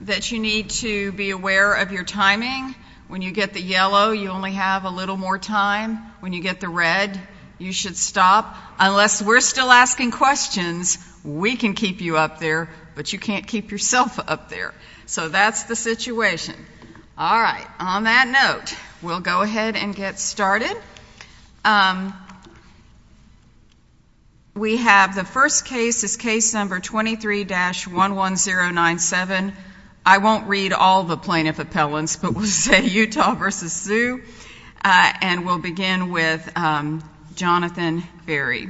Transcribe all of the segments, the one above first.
that you need to be aware of your timing. When you get the yellow, you only have a little more time. When you get the red, you should stop. Unless we're still asking questions, we can keep you up there, but you can't keep yourself up there. So that's the situation. All right, on that note, we'll go ahead and get started. We have the first case is case number 23-11097. I won't read all the plaintiff appellants, but we'll say Utah v. Su, and we'll begin with Jonathan Berry.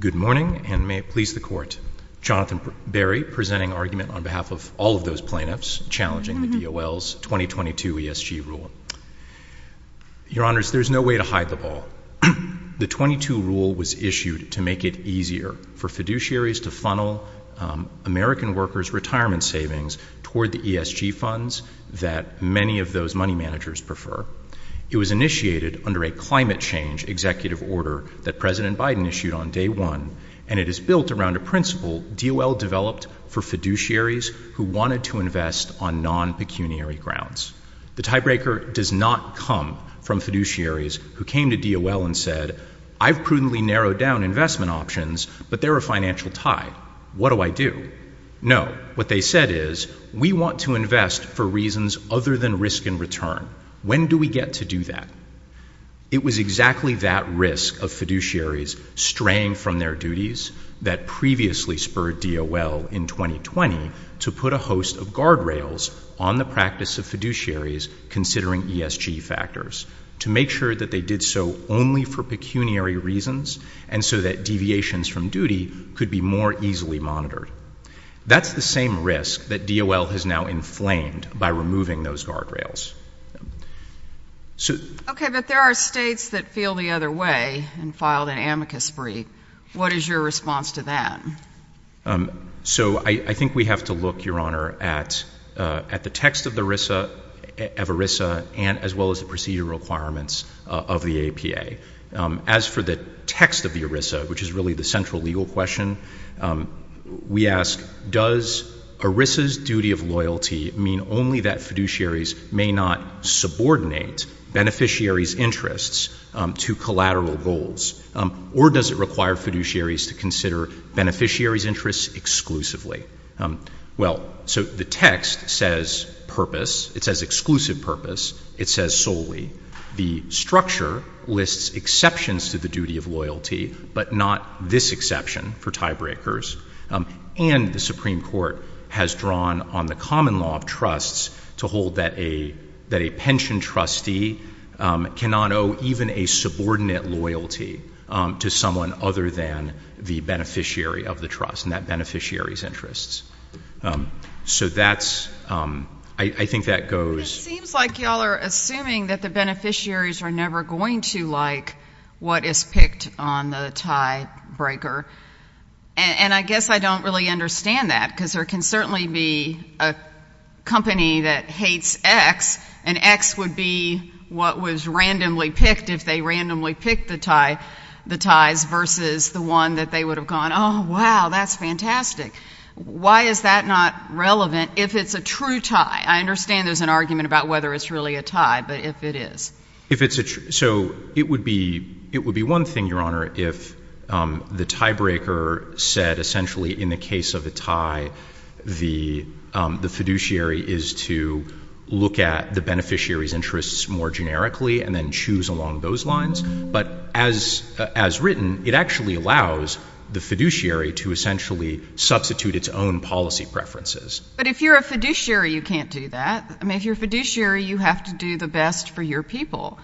Good morning, and may it please the Court. Jonathan Berry presenting argument on behalf of all of those plaintiffs challenging the DOL's 2022 ESG rule. Your Honors, there's no way to hide the ball. The 22 rule was issued to make it easier for fiduciaries to funnel American workers' retirement savings toward the ESG funds that many of those money managers prefer. It was initiated under a climate change executive order that President Biden issued on day one, and it is built around a principle DOL developed for fiduciaries who wanted to invest on non-pecuniary grounds. The tiebreaker does not come from fiduciaries who came to DOL and said, I've prudently narrowed down investment options, but they're a financial tie. What do I do? No, what they said is, we want to invest for reasons other than risk in return. When do we get to do that? It was exactly that risk of fiduciaries straying from their duties that previously spurred DOL in 2020 to put a host of guardrails on the practice of fiduciaries considering ESG factors, to make sure that they did so only for pecuniary reasons and so that deviations from duty could be more easily monitored. That's the same risk that DOL has now inflamed by removing those guardrails. Okay, but there are states that feel the other way and filed an amicus spree. What is your response to that? So I think we have to look, Your Honor, at the text of ERISA and as well as the procedure requirements of the APA. As for the text of the ERISA, which is really the central legal question, we ask, does ERISA's duty of loyalty mean only that fiduciaries may not subordinate beneficiaries' interests to collateral goals, or does it require fiduciaries to consider beneficiaries' interests exclusively? Well, so the text says purpose. It says exclusive purpose. It says solely. The structure lists exceptions to the duty of loyalty, but not this exception for tiebreakers, and the Supreme Court has drawn on the common law of trusts to hold that a pension trustee cannot owe even a subordinate loyalty to someone other than the beneficiary of the trust and that beneficiary's interests. So that's — I think that goes — It seems like you all are assuming that the beneficiaries are never going to like what is picked on the tiebreaker, and I guess I don't really understand that, because there can certainly be a company that hates X, and X would be what was randomly picked if they randomly picked the ties versus the one that they would have gone, oh, wow, that's fantastic. Why is that not relevant if it's a true tie? I understand there's an argument about whether it's really a tie, but if it is. If it's a — so it would be one thing, Your Honor, if the tiebreaker said essentially in the case of a tie the fiduciary is to look at the beneficiary's interests more generically and then choose along those lines, but as written, it actually allows the fiduciary to essentially substitute its own policy preferences. But if you're a fiduciary, you can't do that. I mean, if you're a fiduciary, you have to do the best for your people.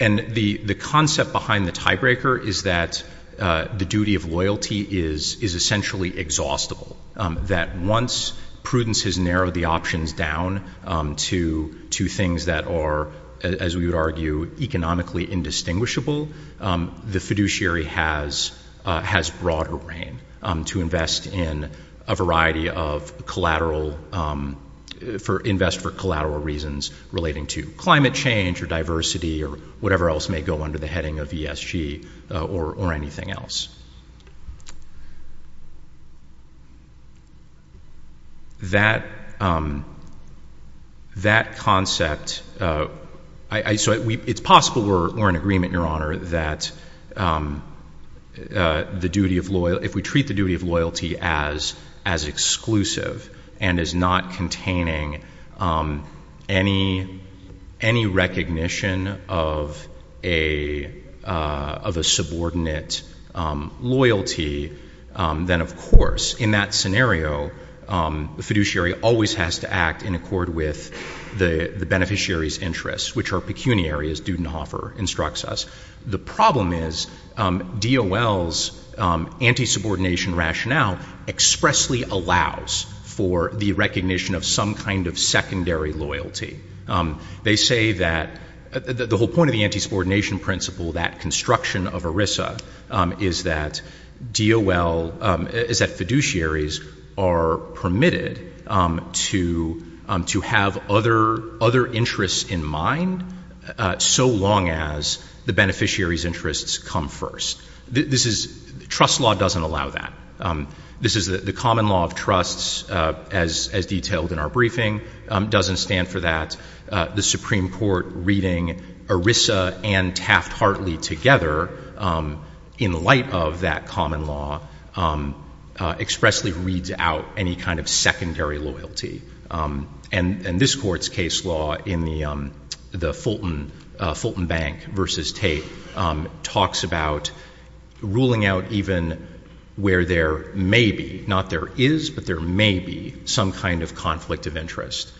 And the concept behind the tiebreaker is that the duty of loyalty is essentially exhaustible, that once prudence has narrowed the options down to things that are, as we would argue, economically indistinguishable, the fiduciary has broader reign to invest in a variety of collateral — invest for collateral reasons relating to climate change or diversity or whatever else may go under the heading of ESG or anything else. That concept — so it's possible we're in agreement, Your Honor, that the duty of — if we treat the duty of loyalty as exclusive and as not containing any recognition of a subordinate loyalty, then, of course, in that scenario, the fiduciary always has to act in accord with the beneficiary's interests, which are pecuniary, as Dudenhofer instructs us. The problem is DOL's anti-subordination rationale expressly allows for the recognition of some kind of secondary loyalty. They say that — the whole point of the anti-subordination principle, that construction of ERISA, is that DOL — is that fiduciaries are permitted to have other interests in mind so long as the beneficiary's interests come first. This is — trust law doesn't allow that. This is — the common law of trusts, as detailed in our briefing, doesn't stand for that. The Supreme Court reading ERISA and Taft-Hartley together, in light of that common law, expressly reads out any kind of secondary loyalty. And this Court's case law in the Fulton Bank v. Tate talks about ruling out even where there may be — not there is, but there may be — some kind of conflict of interest.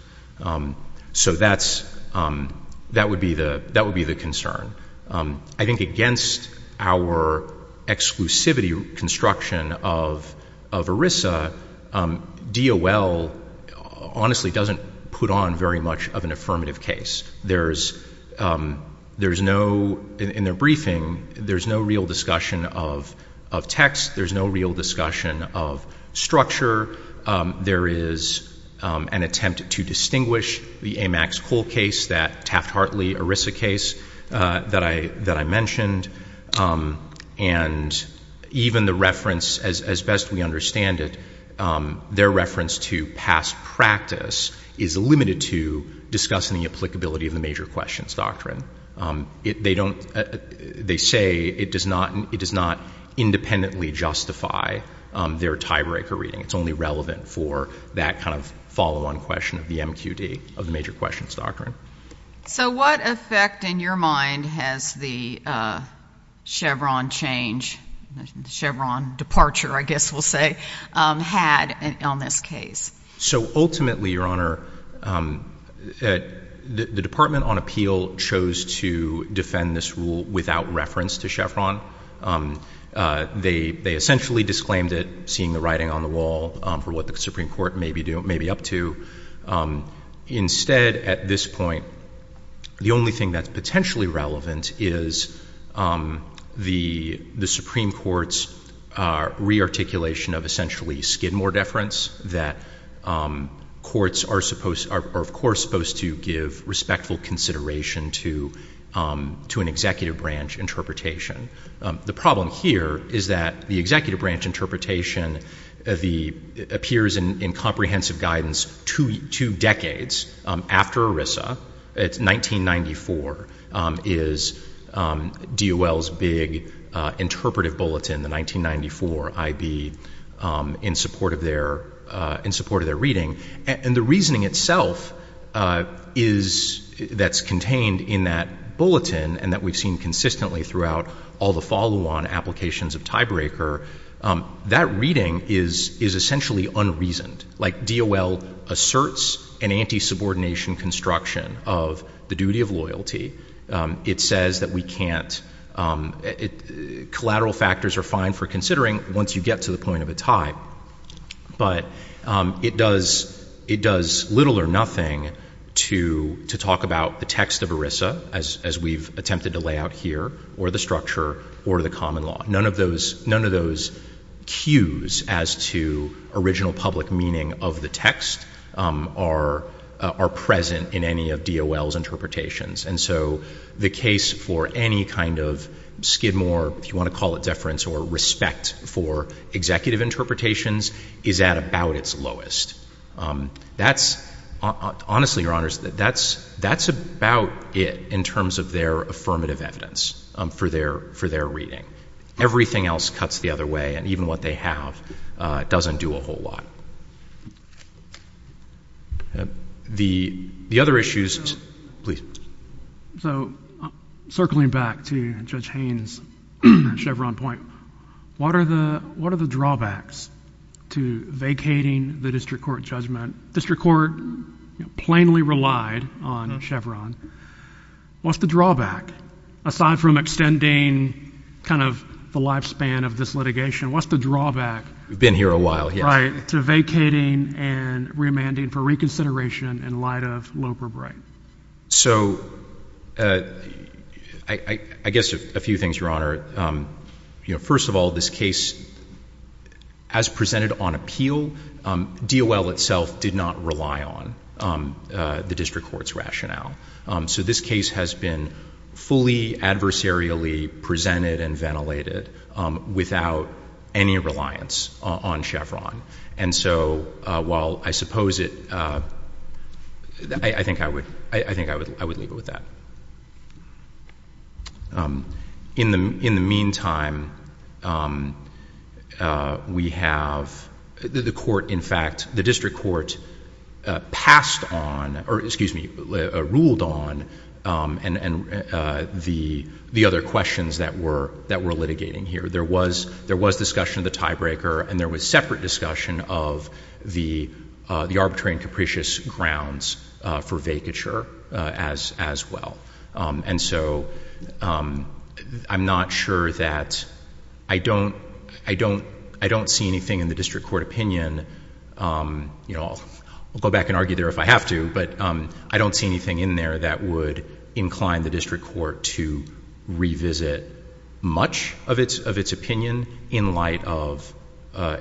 So that's — that would be the concern. I think against our exclusivity construction of ERISA, DOL honestly doesn't put on very much of an affirmative case. There's no — in their briefing, there's no real discussion of text. There's no real discussion of structure. There is an attempt to distinguish the A. Max Cole case, that Taft-Hartley ERISA case, that I mentioned, and even the reference, as best we understand it, their reference to past practice is limited to discussing the applicability of the Major Questions Doctrine. They don't — they say it does not — it does not independently justify their tiebreaker reading. It's only relevant for that kind of follow-on question of the MQD, of the Major Questions Doctrine. So what effect, in your mind, has the Chevron change — the Chevron departure, I guess we'll say — had on this case? So ultimately, Your Honor, the Department on Appeal chose to defend this rule without reference to Chevron. They essentially disclaimed it, seeing the writing on the wall for what the Supreme Court may be up to. Instead, at this point, the only thing that's potentially relevant is the Supreme Court's re-articulation of essentially Skidmore deference, that courts are supposed — are, of course, supposed to give respectful consideration to an executive branch interpretation. The problem here is that the executive branch interpretation appears in comprehensive guidance two decades after ERISA. It's 1994, is DOL's big interpretive bulletin, the 1994 I.B., in support of their — in support of their reading. And the reasoning itself is — that's all the follow-on applications of tiebreaker — that reading is essentially unreasoned. Like, DOL asserts an anti-subordination construction of the duty of loyalty. It says that we can't — collateral factors are fine for considering once you get to the point of a tie. But it does little or nothing to talk about the text of ERISA, as we've attempted to lay out here, or the structure, or the common law. None of those — none of those cues as to original public meaning of the text are present in any of DOL's interpretations. And so the case for any kind of Skidmore, if you want to call it deference or respect for executive interpretations, is at about its lowest. That's — honestly, Your Honors, that's about it in terms of their affirmative evidence for their — for their reading. Everything else cuts the other way, and even what they have doesn't do a whole lot. The other issues — please. So circling back to Judge Haynes' Chevron point, what are the — what are the drawbacks to vacating the district court judgment? District court plainly relied on Chevron. What's the drawback? Aside from extending kind of the lifespan of this litigation, what's the drawback — We've been here a while, yes. — right, to vacating and remanding for reconsideration in light of Loeb or Bright? So I guess a few things, Your Honor. You know, first of all, this case, as presented on appeal, DOL itself did not rely on the district court's rationale. So this case has been fully adversarially presented and ventilated without any reliance on Chevron. And so while I suppose it — I think I would — I think I would leave it with that. In the meantime, we have — the court, in fact — the district court passed on — or, excuse me, ruled on the other questions that were litigating here. There was discussion of the tiebreaker, and there was separate discussion of the arbitrary and capricious grounds for vacature as well. And so I'm not sure that — I don't — I don't see anything in the district court opinion — you know, I'll go back and argue there if I have to, but I don't see anything in there that would incline the district court to revisit much of its opinion in light of —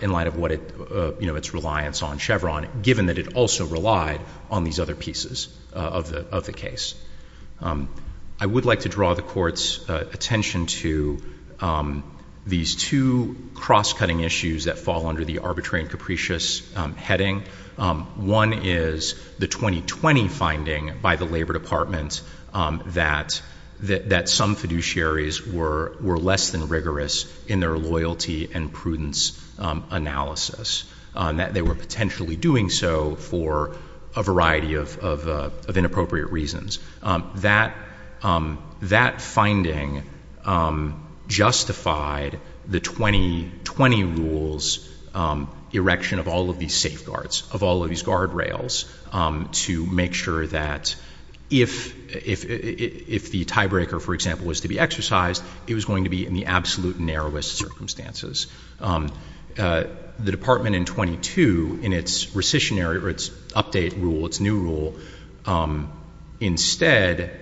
in light of what it — you know, its reliance on Chevron, given that it also relied on these other pieces of the case. I would like to draw the court's attention to these two cross-cutting issues that fall under the arbitrary and capricious heading. One is the 2020 finding by the Labor Department that some fiduciaries were less than rigorous in their loyalty and prudence analysis, that they were potentially doing so for a variety of inappropriate reasons. That — that finding justified the 2020 rule's erection of all of these safeguards, of all of these guardrails, to make sure that if — if the tiebreaker, for example, was to be exercised, it was going to be in the absolute narrowest circumstances. The department in 22, in its rescissionary — or its update rule, its new rule, instead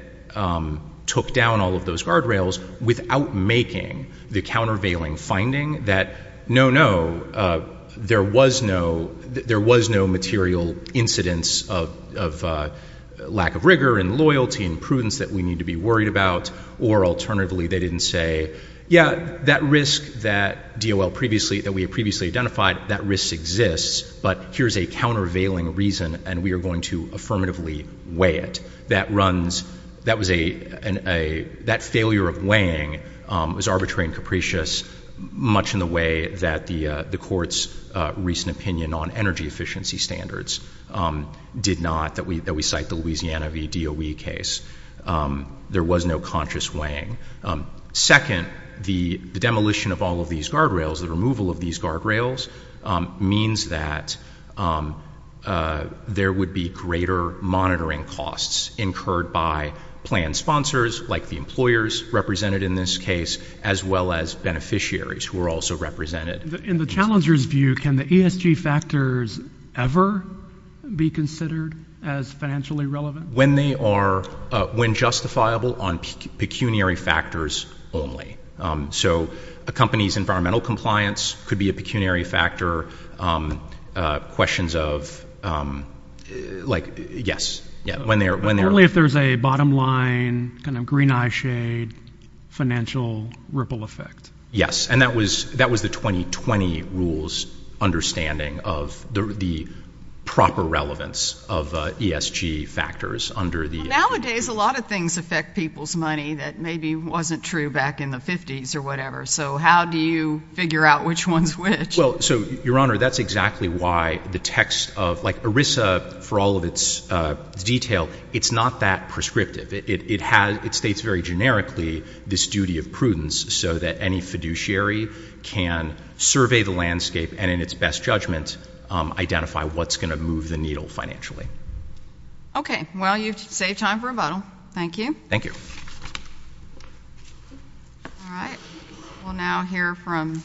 took down all of those guardrails without making the countervailing finding that, no, no, there was no — there was no material incidence of lack of rigor and loyalty and prudence that we need to be worried about, or, alternatively, they didn't say, yeah, that risk that DOL previously — that we had previously identified, that risk exists, but here's a countervailing reason, and we are going to affirmatively weigh it. That runs — that was a — that failure of weighing was arbitrary and capricious, much in the way that the court's recent opinion on energy efficiency standards did not, that we — that we cite the Louisiana v. DOE case. There was no conscious weighing. Second, the demolition of all of these guardrails, the removal of these guardrails, means that there would be greater monitoring costs incurred by planned sponsors, like the employers represented in this case, as well as beneficiaries who are also represented. In the challenger's view, can the ESG factors ever be considered as financially relevant? When they are — when justifiable, on pecuniary factors only. So a company's environmental compliance could be a pecuniary factor, questions of — like, yes, yeah, when they're — Only if there's a bottom line, kind of green eye shade, financial ripple effect. Yes, and that was — that was the 2020 rules understanding of the proper relevance of ESG factors under the — Nowadays, a lot of things affect people's money that maybe wasn't true back in the 50s or whatever. So how do you figure out which one's which? Well, so, Your Honor, that's exactly why the text of — like, ERISA, for all of its detail, it's not that prescriptive. It has — it states very generically this duty of prudence so that any fiduciary can survey the landscape and, in its best judgment, identify what's going to needle financially. Okay. Well, you've saved time for a bottle. Thank you. Thank you. All right. We'll now hear from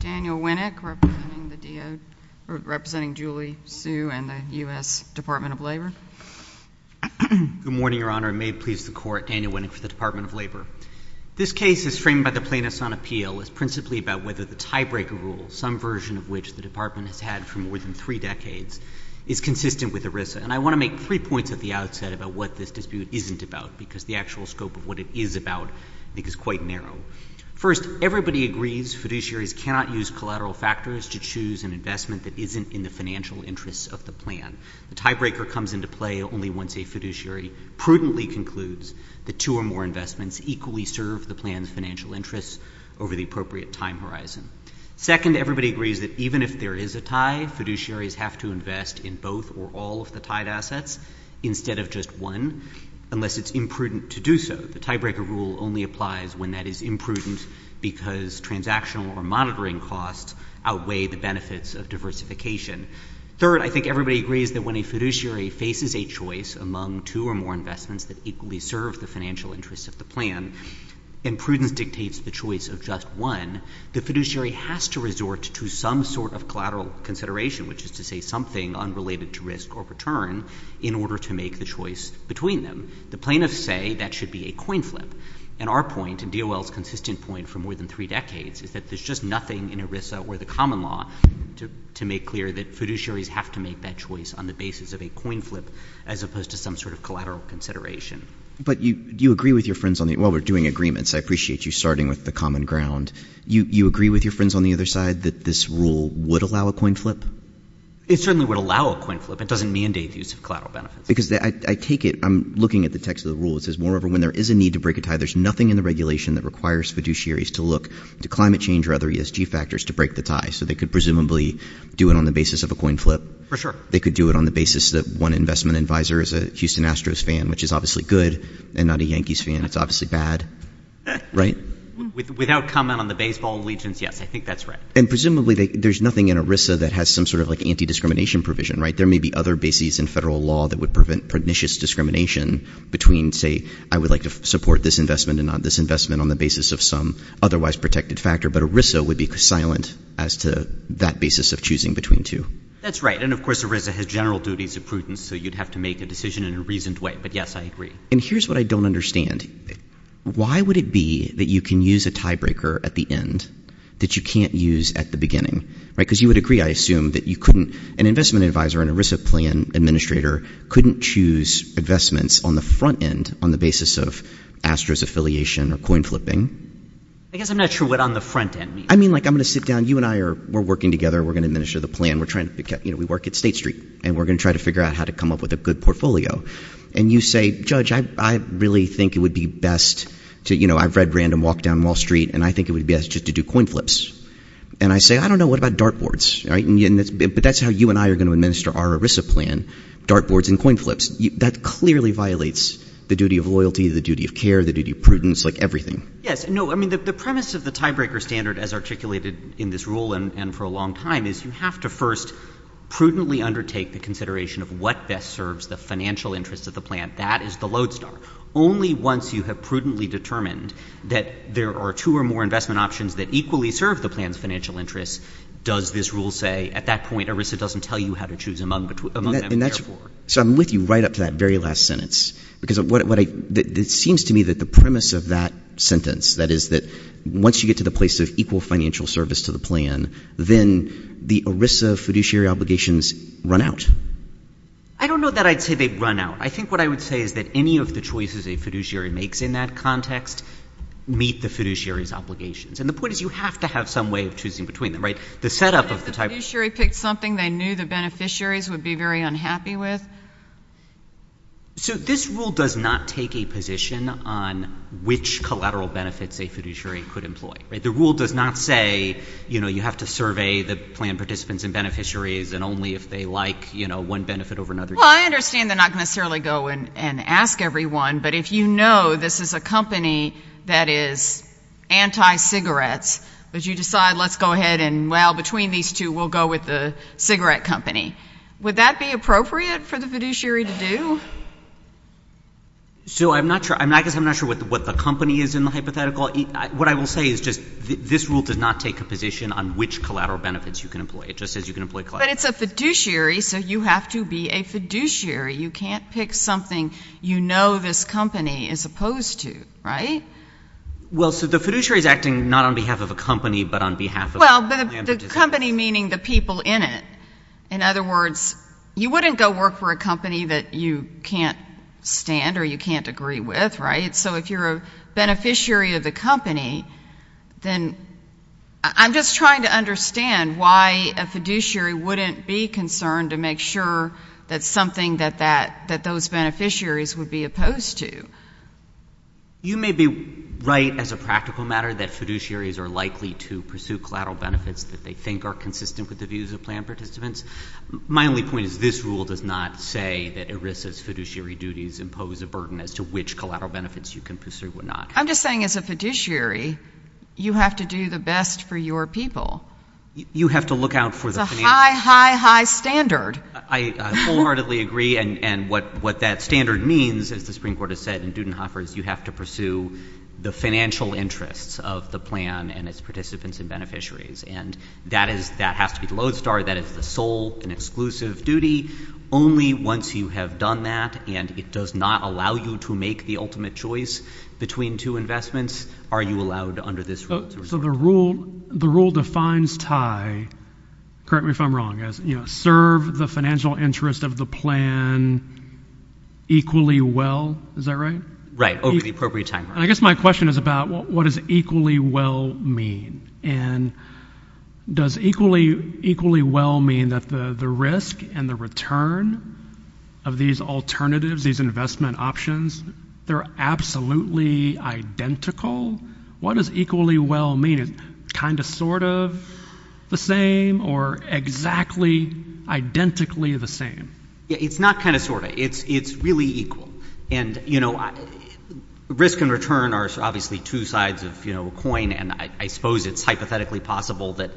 Daniel Winnick, representing the DO — representing Julie, Sue, and the U.S. Department of Labor. Good morning, Your Honor. It may please the Court, Daniel Winnick for the Department of Labor. This case is framed by the plaintiffs on appeal as principally about whether the tiebreaker rule, some version of which the Department has had for more than three decades, is consistent with ERISA. And I want to make three points at the outset about what this dispute isn't about, because the actual scope of what it is about, I think, is quite narrow. First, everybody agrees fiduciaries cannot use collateral factors to choose an investment that isn't in the financial interests of the plan. The tiebreaker comes into play only once a fiduciary prudently concludes that two or more investments equally serve the plan's financial interests over the appropriate time horizon. Second, everybody agrees that even if there is a tie, fiduciaries have to invest in both or all of the tied assets instead of just one, unless it's imprudent to do so. The tiebreaker rule only applies when that is imprudent because transactional or monitoring costs outweigh the benefits of diversification. Third, I think everybody agrees that when a fiduciary faces a choice among two or more investments that equally serve the financial interests of the plan, and prudence dictates the choice of just one, the fiduciary has to resort to some sort of collateral consideration, which is to say something unrelated to risk or return, in order to make the choice between them. The plaintiffs say that should be a coin flip. And our point, and DOL's consistent point for more than three decades, is that there's just nothing in ERISA or the common law to make clear that fiduciaries have to make that choice on the basis of a coin flip as opposed to some sort of collateral consideration. But do you agree with your friends on the, while we're doing agreements, I appreciate you starting with the common ground, you agree with your friends on the other side that this rule would allow a coin flip? It certainly would allow a coin flip. It doesn't mandate the use of collateral benefits. Because I take it, I'm looking at the text of the rule, it says, moreover, when there is a need to break a tie, there's nothing in the regulation that requires fiduciaries to look to climate change or other ESG factors to break the tie. So they could presumably do it on the basis of a coin flip? For sure. They could do it on the basis that one investment advisor is a Houston Astros fan, which is obviously good, and not a Yankees fan, it's obviously bad. Right? Without comment on the baseball allegiance, yes, I think that's right. And presumably, there's nothing in ERISA that has some sort of like anti-discrimination provision, right? There may be other bases in federal law that would prevent pernicious discrimination between, say, I would like to support this investment and not this investment on the basis of some otherwise protected factor, but ERISA would be silent as to that basis of choosing between two. That's right. And of course, ERISA has general duties of prudence, so you'd have to make a decision in a reasoned way. But yes, I agree. And here's what I don't understand. Why would it be that you can use a tiebreaker at the end that you can't use at the beginning, right? Because you would agree, I assume, that you couldn't, an investment advisor, an ERISA plan administrator couldn't choose investments on the front end on the basis of Astros affiliation or coin flipping. I guess I'm not sure what on the front end means. I mean, like, I'm going to sit down, you and I are, we're working together, we're going to administer the plan, we're trying to pick out, you know, we work at State Street, and we're going to try to figure out how to come up with a good portfolio. And you say, Judge, I really think it would be best to, you know, I've read Random Walk down Wall Street, and I think it would be best just to do coin flips. And I say, I don't know, what about dartboards, right? But that's how you and I are going to administer our ERISA plan, dartboards and coin flips. That clearly violates the duty of loyalty, the duty of care, the duty of prudence, like everything. Yes. No, I mean, the premise of the tiebreaker standard, as articulated in this rule and for a long time, is you have to first prudently undertake the consideration of what best serves the financial interests of the plan. That is the lodestar. Only once you have prudently determined that there are two or more investment options that equally serve the plan's financial interests does this rule say, at that point, ERISA doesn't tell you how to choose among them, therefore. So I'm with you right up to that very last sentence. Because what I, it seems to me that the premise of that sentence, that is that once you get to the place of equal financial service to the plan, then the ERISA fiduciary obligations run out. I don't know that I'd say they run out. I think what I would say is that any of the choices a fiduciary makes in that context meet the fiduciary's obligations. And the point is you have to have some way of choosing between them, right? The setup of the tiebreaker— What if the fiduciary picked something they knew the beneficiaries would be very unhappy with? So this rule does not take a position on which collateral benefits a fiduciary could employ, right? The rule does not say, you know, you have to survey the plan participants and beneficiaries and only if they like, you know, one benefit over another. Well, I understand they're not going to necessarily go and ask everyone. But if you know this is a company that is anti-cigarettes, but you decide let's go ahead and, well, between these two, we'll go with the cigarette company, would that be appropriate for the fiduciary to do? So I'm not sure. I guess I'm not sure what the company is in the hypothetical. What I will say is just this rule does not take a position on which collateral benefits you can employ. It just says you can employ collateral— But it's a fiduciary, so you have to be a fiduciary. You can't pick something you know this company is opposed to, right? Well, so the fiduciary is acting not on behalf of a company, but on behalf of— Well, the company meaning the people in it. In other words, you wouldn't go work for a company that you can't stand or you can't agree with, right? So if you're a beneficiary of the company, then I'm just trying to understand why a fiduciary wouldn't be concerned to make sure that something that those beneficiaries would be opposed to. You may be right as a practical matter that fiduciaries are likely to pursue collateral benefits that they think are consistent with the views of plan participants. My only point is this rule does not say that ERISA's fiduciary duties impose a burden as to which collateral benefits you can pursue or not. I'm just saying as a fiduciary, you have to do the best for your people. You have to look out for the financial— It's a high, high, high standard. I wholeheartedly agree, and what that standard means, as the Supreme Court has said in Dudenhofer, is you have to pursue the financial interests of the plan and its participants and beneficiaries. And that has to be the lodestar. That is the sole and exclusive duty. Only once you have done that, and it does not allow you to make the ultimate choice between two investments, are you allowed under this rule. So the rule defines tie—correct me if I'm wrong—as serve the financial interest of the plan equally well. Is that right? Right, over the appropriate time frame. I guess my question is about what does equally well mean? And does equally well mean that the risk and the return of these alternatives, these investment options, they're absolutely identical? What does equally well mean? Is it kind of sort of the same or exactly identically the same? It's not kind of sort of. It's really equal. And, you know, risk and return are obviously two sides of a coin. And I suppose it's hypothetically possible that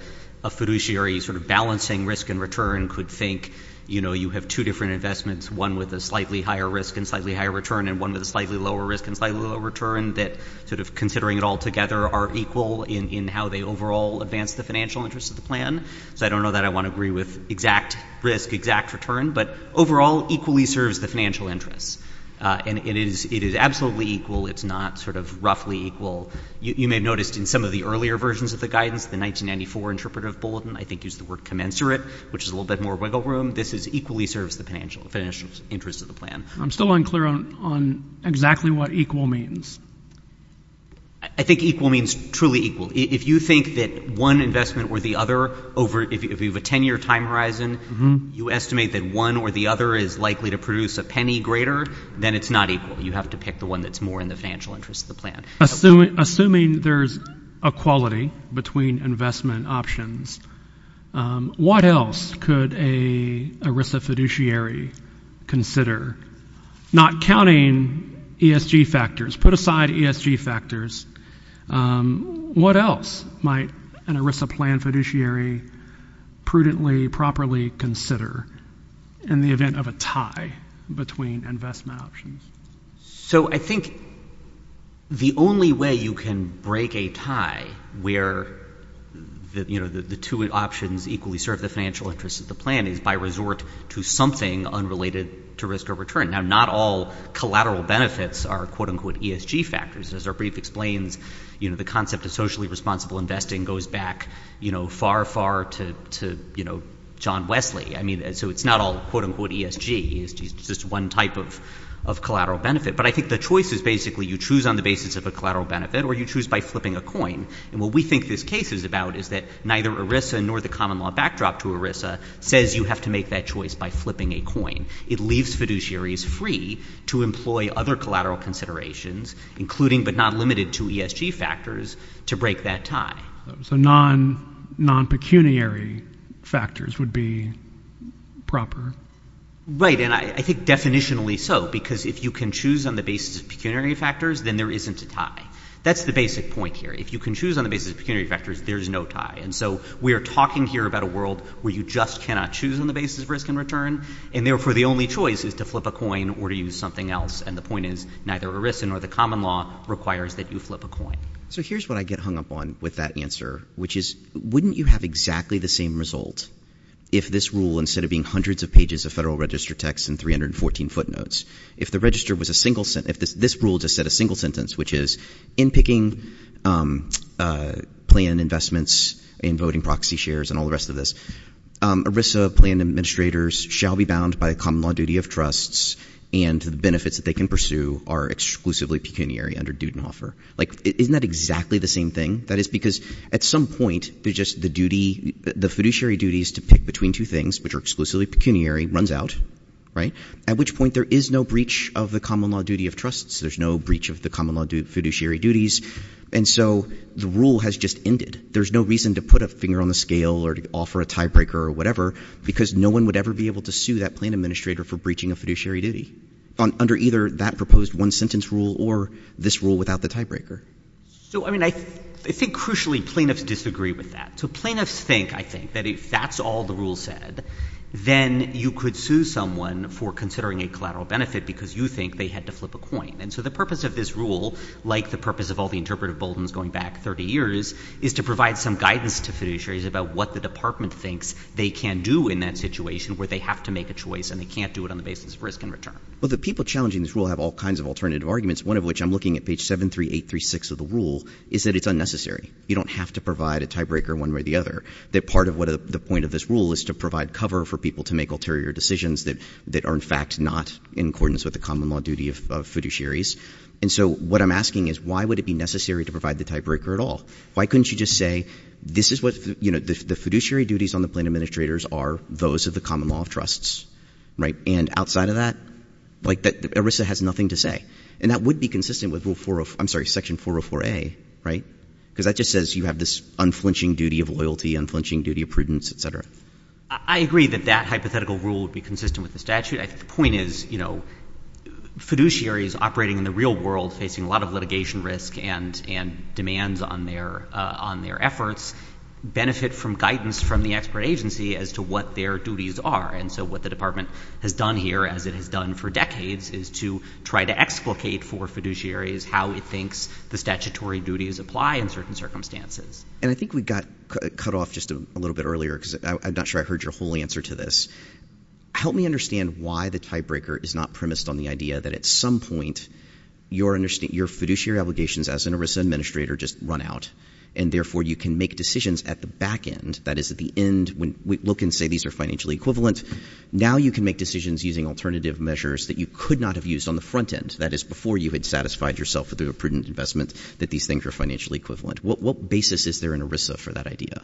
a fiduciary sort of balancing risk and return could think, you know, you have two different investments, one with a slightly higher risk and slightly higher return, and one with a slightly lower risk and slightly lower return, that sort of considering it all together are equal in how they overall advance the financial interests of the plan. So I don't know that I want to agree with exact risk, exact return. But overall, equally serves the financial interests. And it is absolutely equal. It's not sort of roughly equal. You may have noticed in some of the earlier versions of the guidance, the 1994 interpretive bulletin, I think used the word commensurate, which is a little bit more wiggle room. This is equally serves the financial interests of the plan. I'm still unclear on exactly what equal means. I think equal means truly equal. If you think that one investment or the other over, if you have a 10-year time horizon, you estimate that one or the other is likely to produce a penny greater, then it's not equal. You have to pick the one that's more in the financial interests of the plan. Assuming there's equality between investment options, what else could a ERISA fiduciary consider? Not counting ESG factors, put aside ESG factors, what else might an ERISA plan fiduciary prudently, properly consider in the event of a tie between investment options? So I think the only way you can break a tie where the two options equally serve the financial interests of the plan is by resort to something unrelated to risk or return. Now, not all collateral benefits are quote-unquote ESG factors. As our brief explains, the concept of socially responsible investing goes back far, to John Wesley. I mean, so it's not all quote-unquote ESG. It's just one type of collateral benefit. But I think the choice is basically you choose on the basis of a collateral benefit or you choose by flipping a coin. And what we think this case is about is that neither ERISA nor the common law backdrop to ERISA says you have to make that choice by flipping a coin. It leaves fiduciaries free to employ other collateral considerations, including but not limited to ESG factors, to break that tie. So non-pecuniary factors would be proper? Right. And I think definitionally so, because if you can choose on the basis of pecuniary factors, then there isn't a tie. That's the basic point here. If you can choose on the basis of pecuniary factors, there's no tie. And so we are talking here about a world where you just cannot choose on the basis of risk and return. And therefore, the only choice is to flip a coin or to use something else. And the point is neither ERISA nor the common law requires that you flip a coin. So here's what I get hung up on with that answer, which is wouldn't you have exactly the same result if this rule, instead of being hundreds of pages of federal register text and 314 footnotes, if the register was a single sentence, if this rule just said a single sentence, which is in picking plan investments and voting proxy shares and all the rest of this, ERISA plan administrators shall be bound by a common law duty of trusts and the benefits that they can pursue are exclusively pecuniary under Dudenhofer. Isn't that exactly the same thing? That is because at some point, the fiduciary duties to pick between two things, which are exclusively pecuniary, runs out, at which point there is no breach of the common law duty of trusts. There's no breach of the common law fiduciary duties. And so the rule has just ended. There's no reason to put a finger on the scale or to offer a tiebreaker or whatever, because no one would ever be able to sue that plan administrator for breaching a fiduciary duty under either that proposed one sentence rule or this rule without the tiebreaker. So, I mean, I think crucially, plaintiffs disagree with that. So plaintiffs think, I think, that if that's all the rule said, then you could sue someone for considering a collateral benefit because you think they had to flip a coin. And so the purpose of this rule, like the purpose of all the interpretive bulletins going back 30 years, is to provide some guidance to fiduciaries about what the department thinks they can do in that situation where they have to make a choice and they can't do it on the Well, the people challenging this rule have all kinds of alternative arguments, one of which I'm looking at page 73836 of the rule, is that it's unnecessary. You don't have to provide a tiebreaker one way or the other. That part of the point of this rule is to provide cover for people to make ulterior decisions that are, in fact, not in accordance with the common law duty of fiduciaries. And so what I'm asking is, why would it be necessary to provide the tiebreaker at all? Why couldn't you just say, this is what the fiduciary duties on the plaintiff administrators are, those of the common law of trusts, right? And outside of that, ERISA has nothing to say. And that would be consistent with rule 404, I'm sorry, section 404A, right? Because that just says you have this unflinching duty of loyalty, unflinching duty of prudence, et cetera. I agree that that hypothetical rule would be consistent with the statute. I think the point is, fiduciaries operating in the real world facing a lot of litigation risk and demands on their efforts benefit from guidance from the expert agency as to what their duties are. And so what the department has done here, as it has done for decades, is to try to explicate for fiduciaries how it thinks the statutory duties apply in certain circumstances. And I think we got cut off just a little bit earlier, because I'm not sure I heard your whole answer to this. Help me understand why the tiebreaker is not premised on the idea that at some point, your fiduciary obligations as an ERISA administrator just run out. And therefore, you can make decisions at the back end. That is, at the end, when we look and say these are financially equivalent, now you can make decisions using alternative measures that you could not have used on the front end. That is, before you had satisfied yourself with a prudent investment that these things are financially equivalent. What basis is there in ERISA for that idea?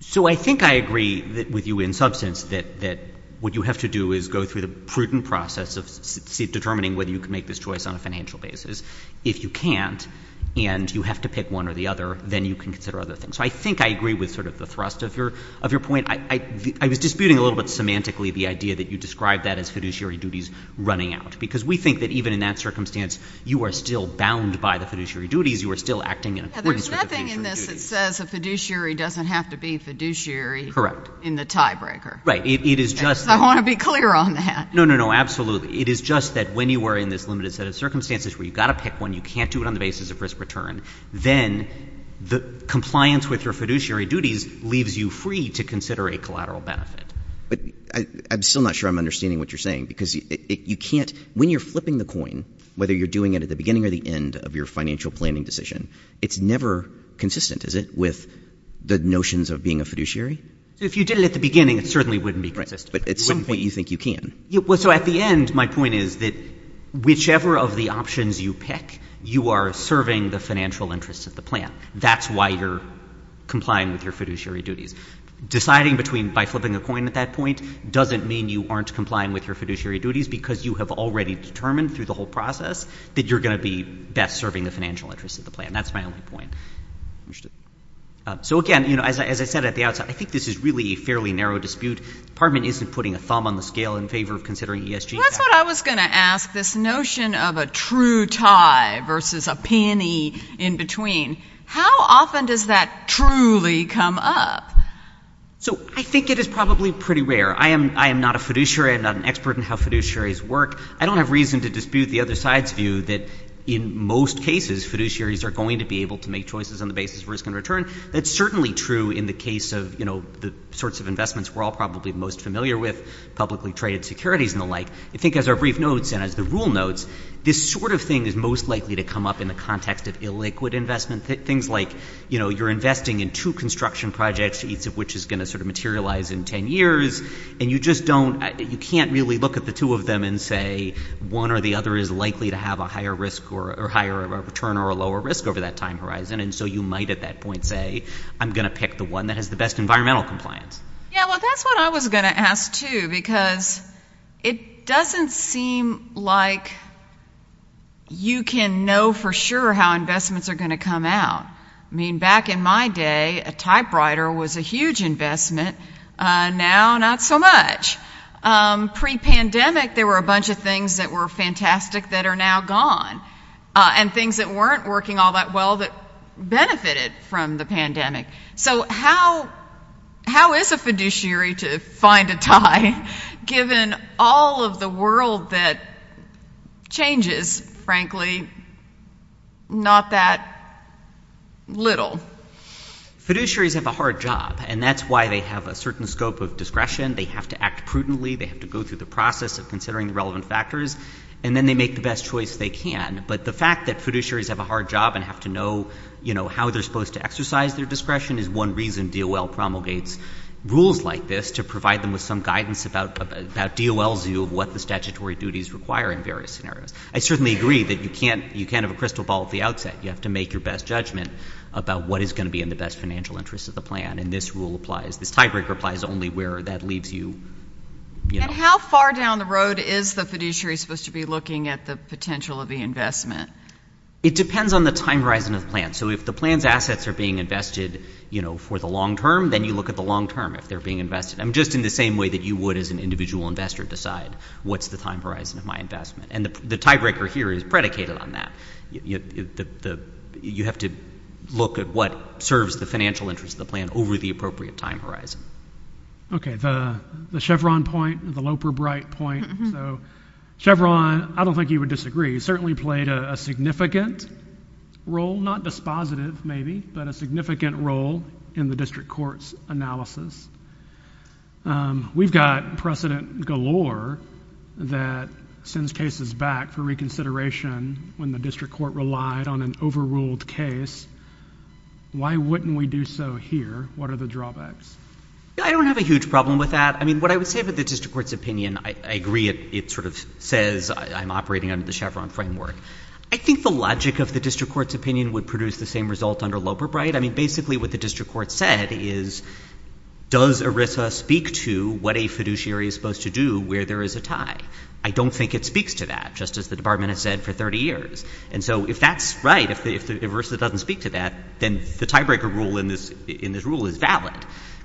So I think I agree with you in substance that what you have to do is go through the prudent process of determining whether you can make this choice on a financial basis. If you can't, and you have to pick one or the other, then you can consider other things. So I think I agree with sort of the thrust of your point. I was disputing a little bit semantically the idea that you described that as fiduciary duties running out. Because we think that even in that circumstance, you are still bound by the fiduciary duties. You are still acting in accordance with the fiduciary duties. But there's nothing in this that says a fiduciary doesn't have to be fiduciary in the tiebreaker. Right. It is just— I want to be clear on that. No, no, no. Absolutely. It is just that when you are in this limited set of circumstances where you've got to pick one, you can't do it on the basis of risk return, then the compliance with your fiduciary duties leaves you free to consider a collateral benefit. But I'm still not sure I'm understanding what you're saying. Because you can't—when you're flipping the coin, whether you're doing it at the beginning or the end of your financial planning decision, it's never consistent, is it, with the notions of being a fiduciary? If you did it at the beginning, it certainly wouldn't be consistent. Right. But at some point, you think you can. So at the end, my point is that whichever of the options you pick, you are serving the financial interests of the plan. That's why you're complying with your fiduciary duties. Deciding between by flipping a coin at that point doesn't mean you aren't complying with your fiduciary duties because you have already determined through the whole process that you're going to be best serving the financial interests of the plan. That's my only point. So again, as I said at the outset, I think this is really a fairly narrow dispute. The Department isn't putting a thumb on the scale in favor of considering ESG— That's what I was going to ask, this notion of a true tie versus a penny in between. How often does that truly come up? So I think it is probably pretty rare. I am not a fiduciary. I am not an expert in how fiduciaries work. I don't have reason to dispute the other side's view that in most cases, fiduciaries are going to be able to make choices on the basis of risk and return. That's certainly true in the case of the sorts of investments we're all probably most familiar with, publicly traded securities and the like. I think as our brief notes and as the rule notes, this sort of thing is most likely to come up in the context of illiquid investment. Things like you're investing in two construction projects, each of which is going to sort of materialize in 10 years, and you just don't—you can't really look at the two of them and say one or the other is likely to have a higher risk or higher return or a lower risk over that time horizon. So you might at that point say, I'm going to pick the one that has the best environmental compliance. Yeah, well, that's what I was going to ask, too, because it doesn't seem like you can know for sure how investments are going to come out. Back in my day, a typewriter was a huge investment. Now, not so much. Pre-pandemic, there were a bunch of things that were fantastic that are now gone, and things that weren't working all that well that benefited from the pandemic. So how is a fiduciary to find a tie, given all of the world that changes, frankly, not that little? Fiduciaries have a hard job, and that's why they have a certain scope of discretion. They have to act prudently. They have to go through the process of considering the relevant factors, and then they make the best choice they can. But the fact that fiduciaries have a hard job and have to know how they're supposed to exercise their discretion is one reason DOL promulgates rules like this, to provide them with some guidance about DOL's view of what the statutory duties require in various scenarios. I certainly agree that you can't have a crystal ball at the outset. You have to make your best judgment about what is going to be in the best financial interest of the plan, and this rule applies. This tiebreaker applies only where that leaves you. And how far down the road is the fiduciary supposed to be looking at the potential of the investment? It depends on the time horizon of the plan. So if the plan's assets are being invested, you know, for the long term, then you look at the long term, if they're being invested. I'm just in the same way that you would as an individual investor decide, what's the time horizon of my investment? And the tiebreaker here is predicated on that. You have to look at what serves the financial interest of the plan over the appropriate time horizon. Okay, the Chevron point, the Loper-Bright point. So Chevron, I don't think you would disagree. Certainly played a significant role, not dispositive maybe, but a significant role in the district court's analysis. We've got precedent galore that sends cases back for reconsideration when the district court relied on an overruled case. Why wouldn't we do so here? What are the drawbacks? I don't have a huge problem with that. I mean, what I would say about the district court's opinion, I agree it sort of says I'm operating under the Chevron framework. I think the logic of the district court's opinion would produce the same result under Loper-Bright. I mean, basically what the district court said is, does ERISA speak to what a fiduciary is supposed to do where there is a tie? I don't think it speaks to that, just as the department has said for 30 years. And so if that's right, if ERISA doesn't speak to that, then the tiebreaker rule in this rule is valid.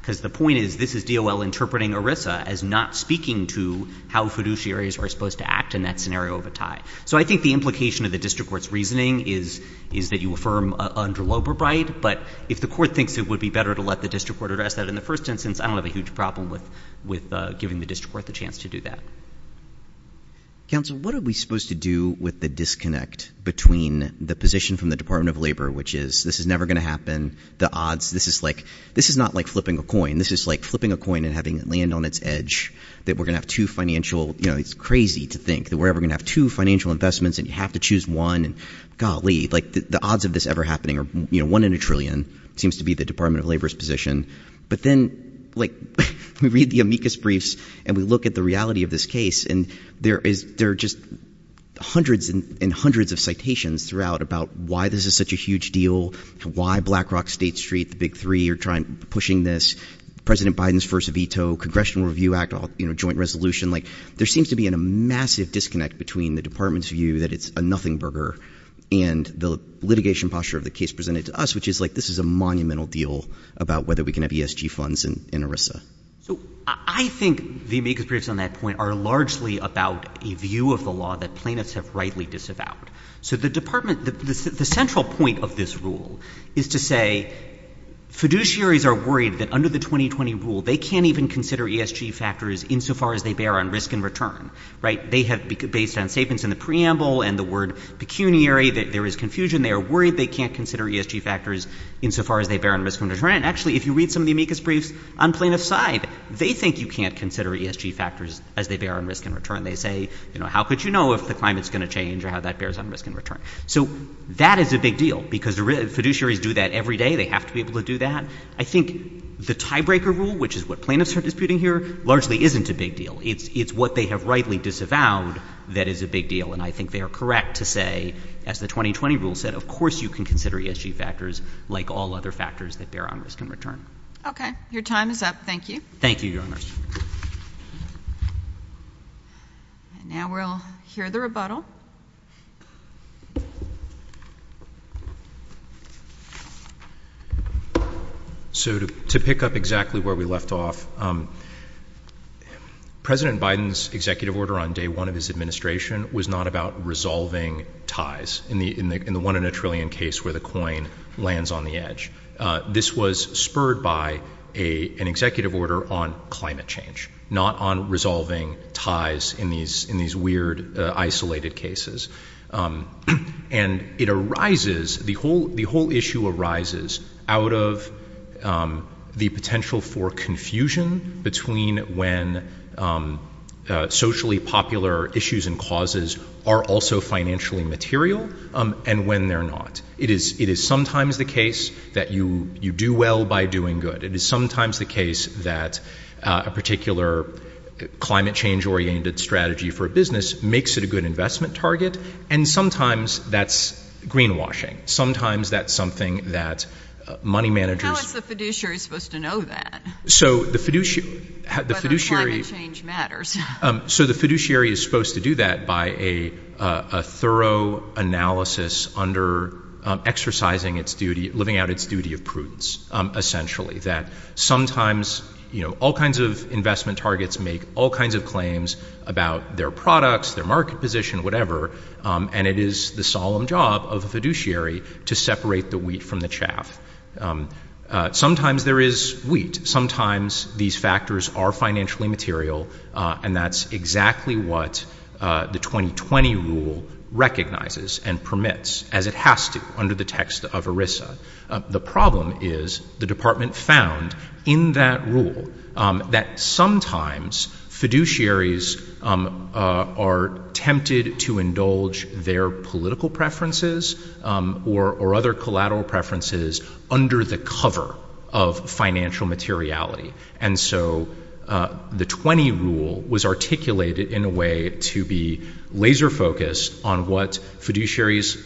Because the point is, this is DOL interpreting ERISA as not speaking to how fiduciaries are supposed to act in that scenario of a tie. So I think the implication of the district court's reasoning is that you affirm under Loper-Bright. But if the court thinks it would be better to let the district court address that in the first instance, I don't have a huge problem with giving the district court the chance to do that. Counsel, what are we supposed to do with the disconnect between the position from the Department of Labor, which is, this is never going to happen, the odds, this is like, this is not like flipping a coin. This is like flipping a coin and having it land on its edge, that we're going to have two financial, it's crazy to think that we're ever going to have two financial investments and you have to choose one. And golly, the odds of this ever happening are one in a trillion, seems to be the Department of Labor's position. But then we read the amicus briefs and we look at the reality of this case. And there are just hundreds and hundreds of citations throughout about why this is such a huge deal, why Black Rock State Street, the big three, are pushing this, President seems to be in a massive disconnect between the department's view that it's a nothing burger and the litigation posture of the case presented to us, which is like, this is a monumental deal about whether we can have ESG funds in ERISA. So I think the amicus briefs on that point are largely about a view of the law that plaintiffs have rightly disavowed. So the department, the central point of this rule is to say, fiduciaries are worried that under the 2020 rule, they can't even consider ESG factors insofar as they bear on risk and return, right? They have, based on statements in the preamble and the word pecuniary, that there is confusion. They are worried they can't consider ESG factors insofar as they bear on risk and return. And actually, if you read some of the amicus briefs on plaintiff's side, they think you can't consider ESG factors as they bear on risk and return. They say, you know, how could you know if the climate's going to change or how that bears on risk and return? So that is a big deal because fiduciaries do that every day. They have to be able to do that. I think the tiebreaker rule, which is what plaintiffs are disputing here, largely isn't a big deal. It's what they have rightly disavowed that is a big deal. And I think they are correct to say, as the 2020 rule said, of course you can consider ESG factors like all other factors that bear on risk and return. Okay. Your time is up. Thank you. Thank you, Your Honors. Now we'll hear the rebuttal. So to pick up exactly where we left off, President Biden's executive order on day one of his administration was not about resolving ties in the one in a trillion case where the coin lands on the edge. This was spurred by an executive order on climate change, not on resolving ties in these weird, isolated cases. And it arises, the whole issue arises out of the potential for confusion between when socially popular issues and causes are also financially material and when they're not. It is sometimes the case that you do well by doing good. It is sometimes the case that a particular climate change-oriented strategy for a business makes it a good investment target. And sometimes that's greenwashing. Sometimes that's something that money managers- How is the fiduciary supposed to know that? So the fiduciary- Whether climate change matters. So the fiduciary is supposed to do that by a thorough analysis under exercising its duty, living out its duty of prudence, essentially. That sometimes, you know, all kinds of investment targets make all kinds of claims about their products, their market position, whatever, and it is the solemn job of the fiduciary to separate the wheat from the chaff. Sometimes there is wheat. Sometimes these factors are financially material, and that's exactly what the 2020 rule recognizes and permits, as it has to under the text of ERISA. The problem is the department found in that rule that sometimes fiduciaries are tempted to indulge their political preferences or other collateral preferences under the cover of financial materiality. And so the 20 rule was articulated in a way to be laser-focused on what fiduciaries'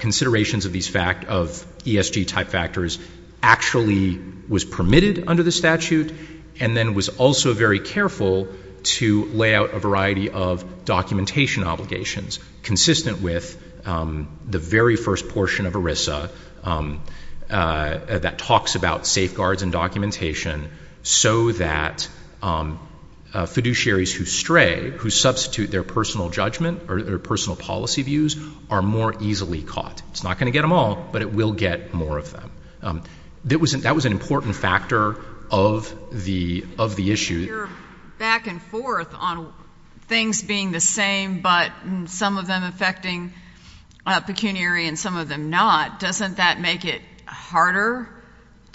considerations of these ESG-type factors actually was permitted under the statute and then was also very careful to lay out a variety of documentation obligations consistent with the very first portion of ERISA that talks about safeguards and documentation so that fiduciaries who stray, who substitute their personal judgment or their personal policy views, are more easily caught. It's not going to get them all, but it will get more of them. That was an important factor of the issue. If you're back and forth on things being the same but some of them affecting pecuniary and some of them not, doesn't that make it harder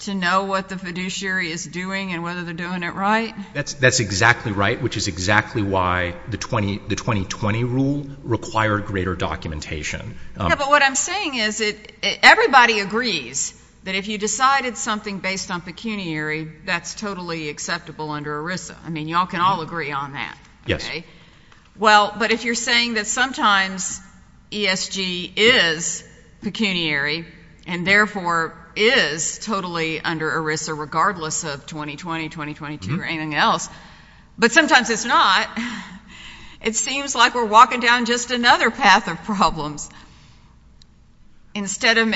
to know what the fiduciary is doing and whether they're doing it right? That's exactly right, which is exactly why the 2020 rule required greater documentation. But what I'm saying is everybody agrees that if you decided something based on pecuniary, that's totally acceptable under ERISA. I mean, y'all can all agree on that. Yes. Well, but if you're saying that sometimes ESG is pecuniary and therefore is totally under ERISA regardless of 2020, 2022, or anything else, but sometimes it's not, it seems like we're walking down just another path of problems. Instead of,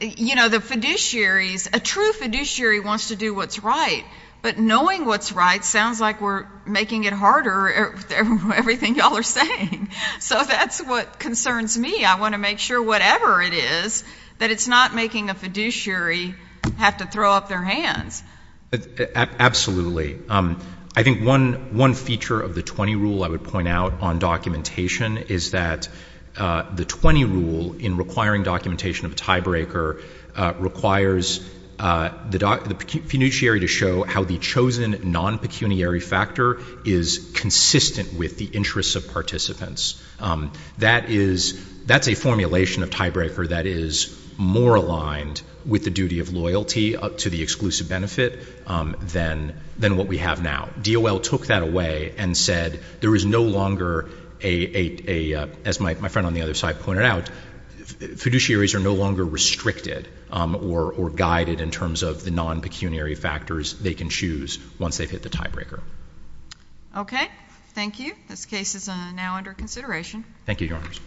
you know, the fiduciaries, a true fiduciary wants to do what's right, but knowing what's right sounds like we're making it harder, everything y'all are saying. So that's what concerns me. I want to make sure whatever it is, that it's not making a fiduciary have to throw up their hands. Absolutely. I think one feature of the 20 rule I would point out on documentation is that the 20 rule in requiring documentation of a tiebreaker requires the fiduciary to show how the chosen non-pecuniary factor is consistent with the interests of participants. That is, that's a formulation of tiebreaker that is more aligned with the duty of loyalty to the exclusive benefit than what we have now. DOL took that away and said there is no longer a, as my friend on the other side pointed out, fiduciaries are no longer restricted or guided in terms of the non-pecuniary factors they can choose once they've hit the tiebreaker. Okay. Thank you. This case is now under consideration. Thank you, Your Honors.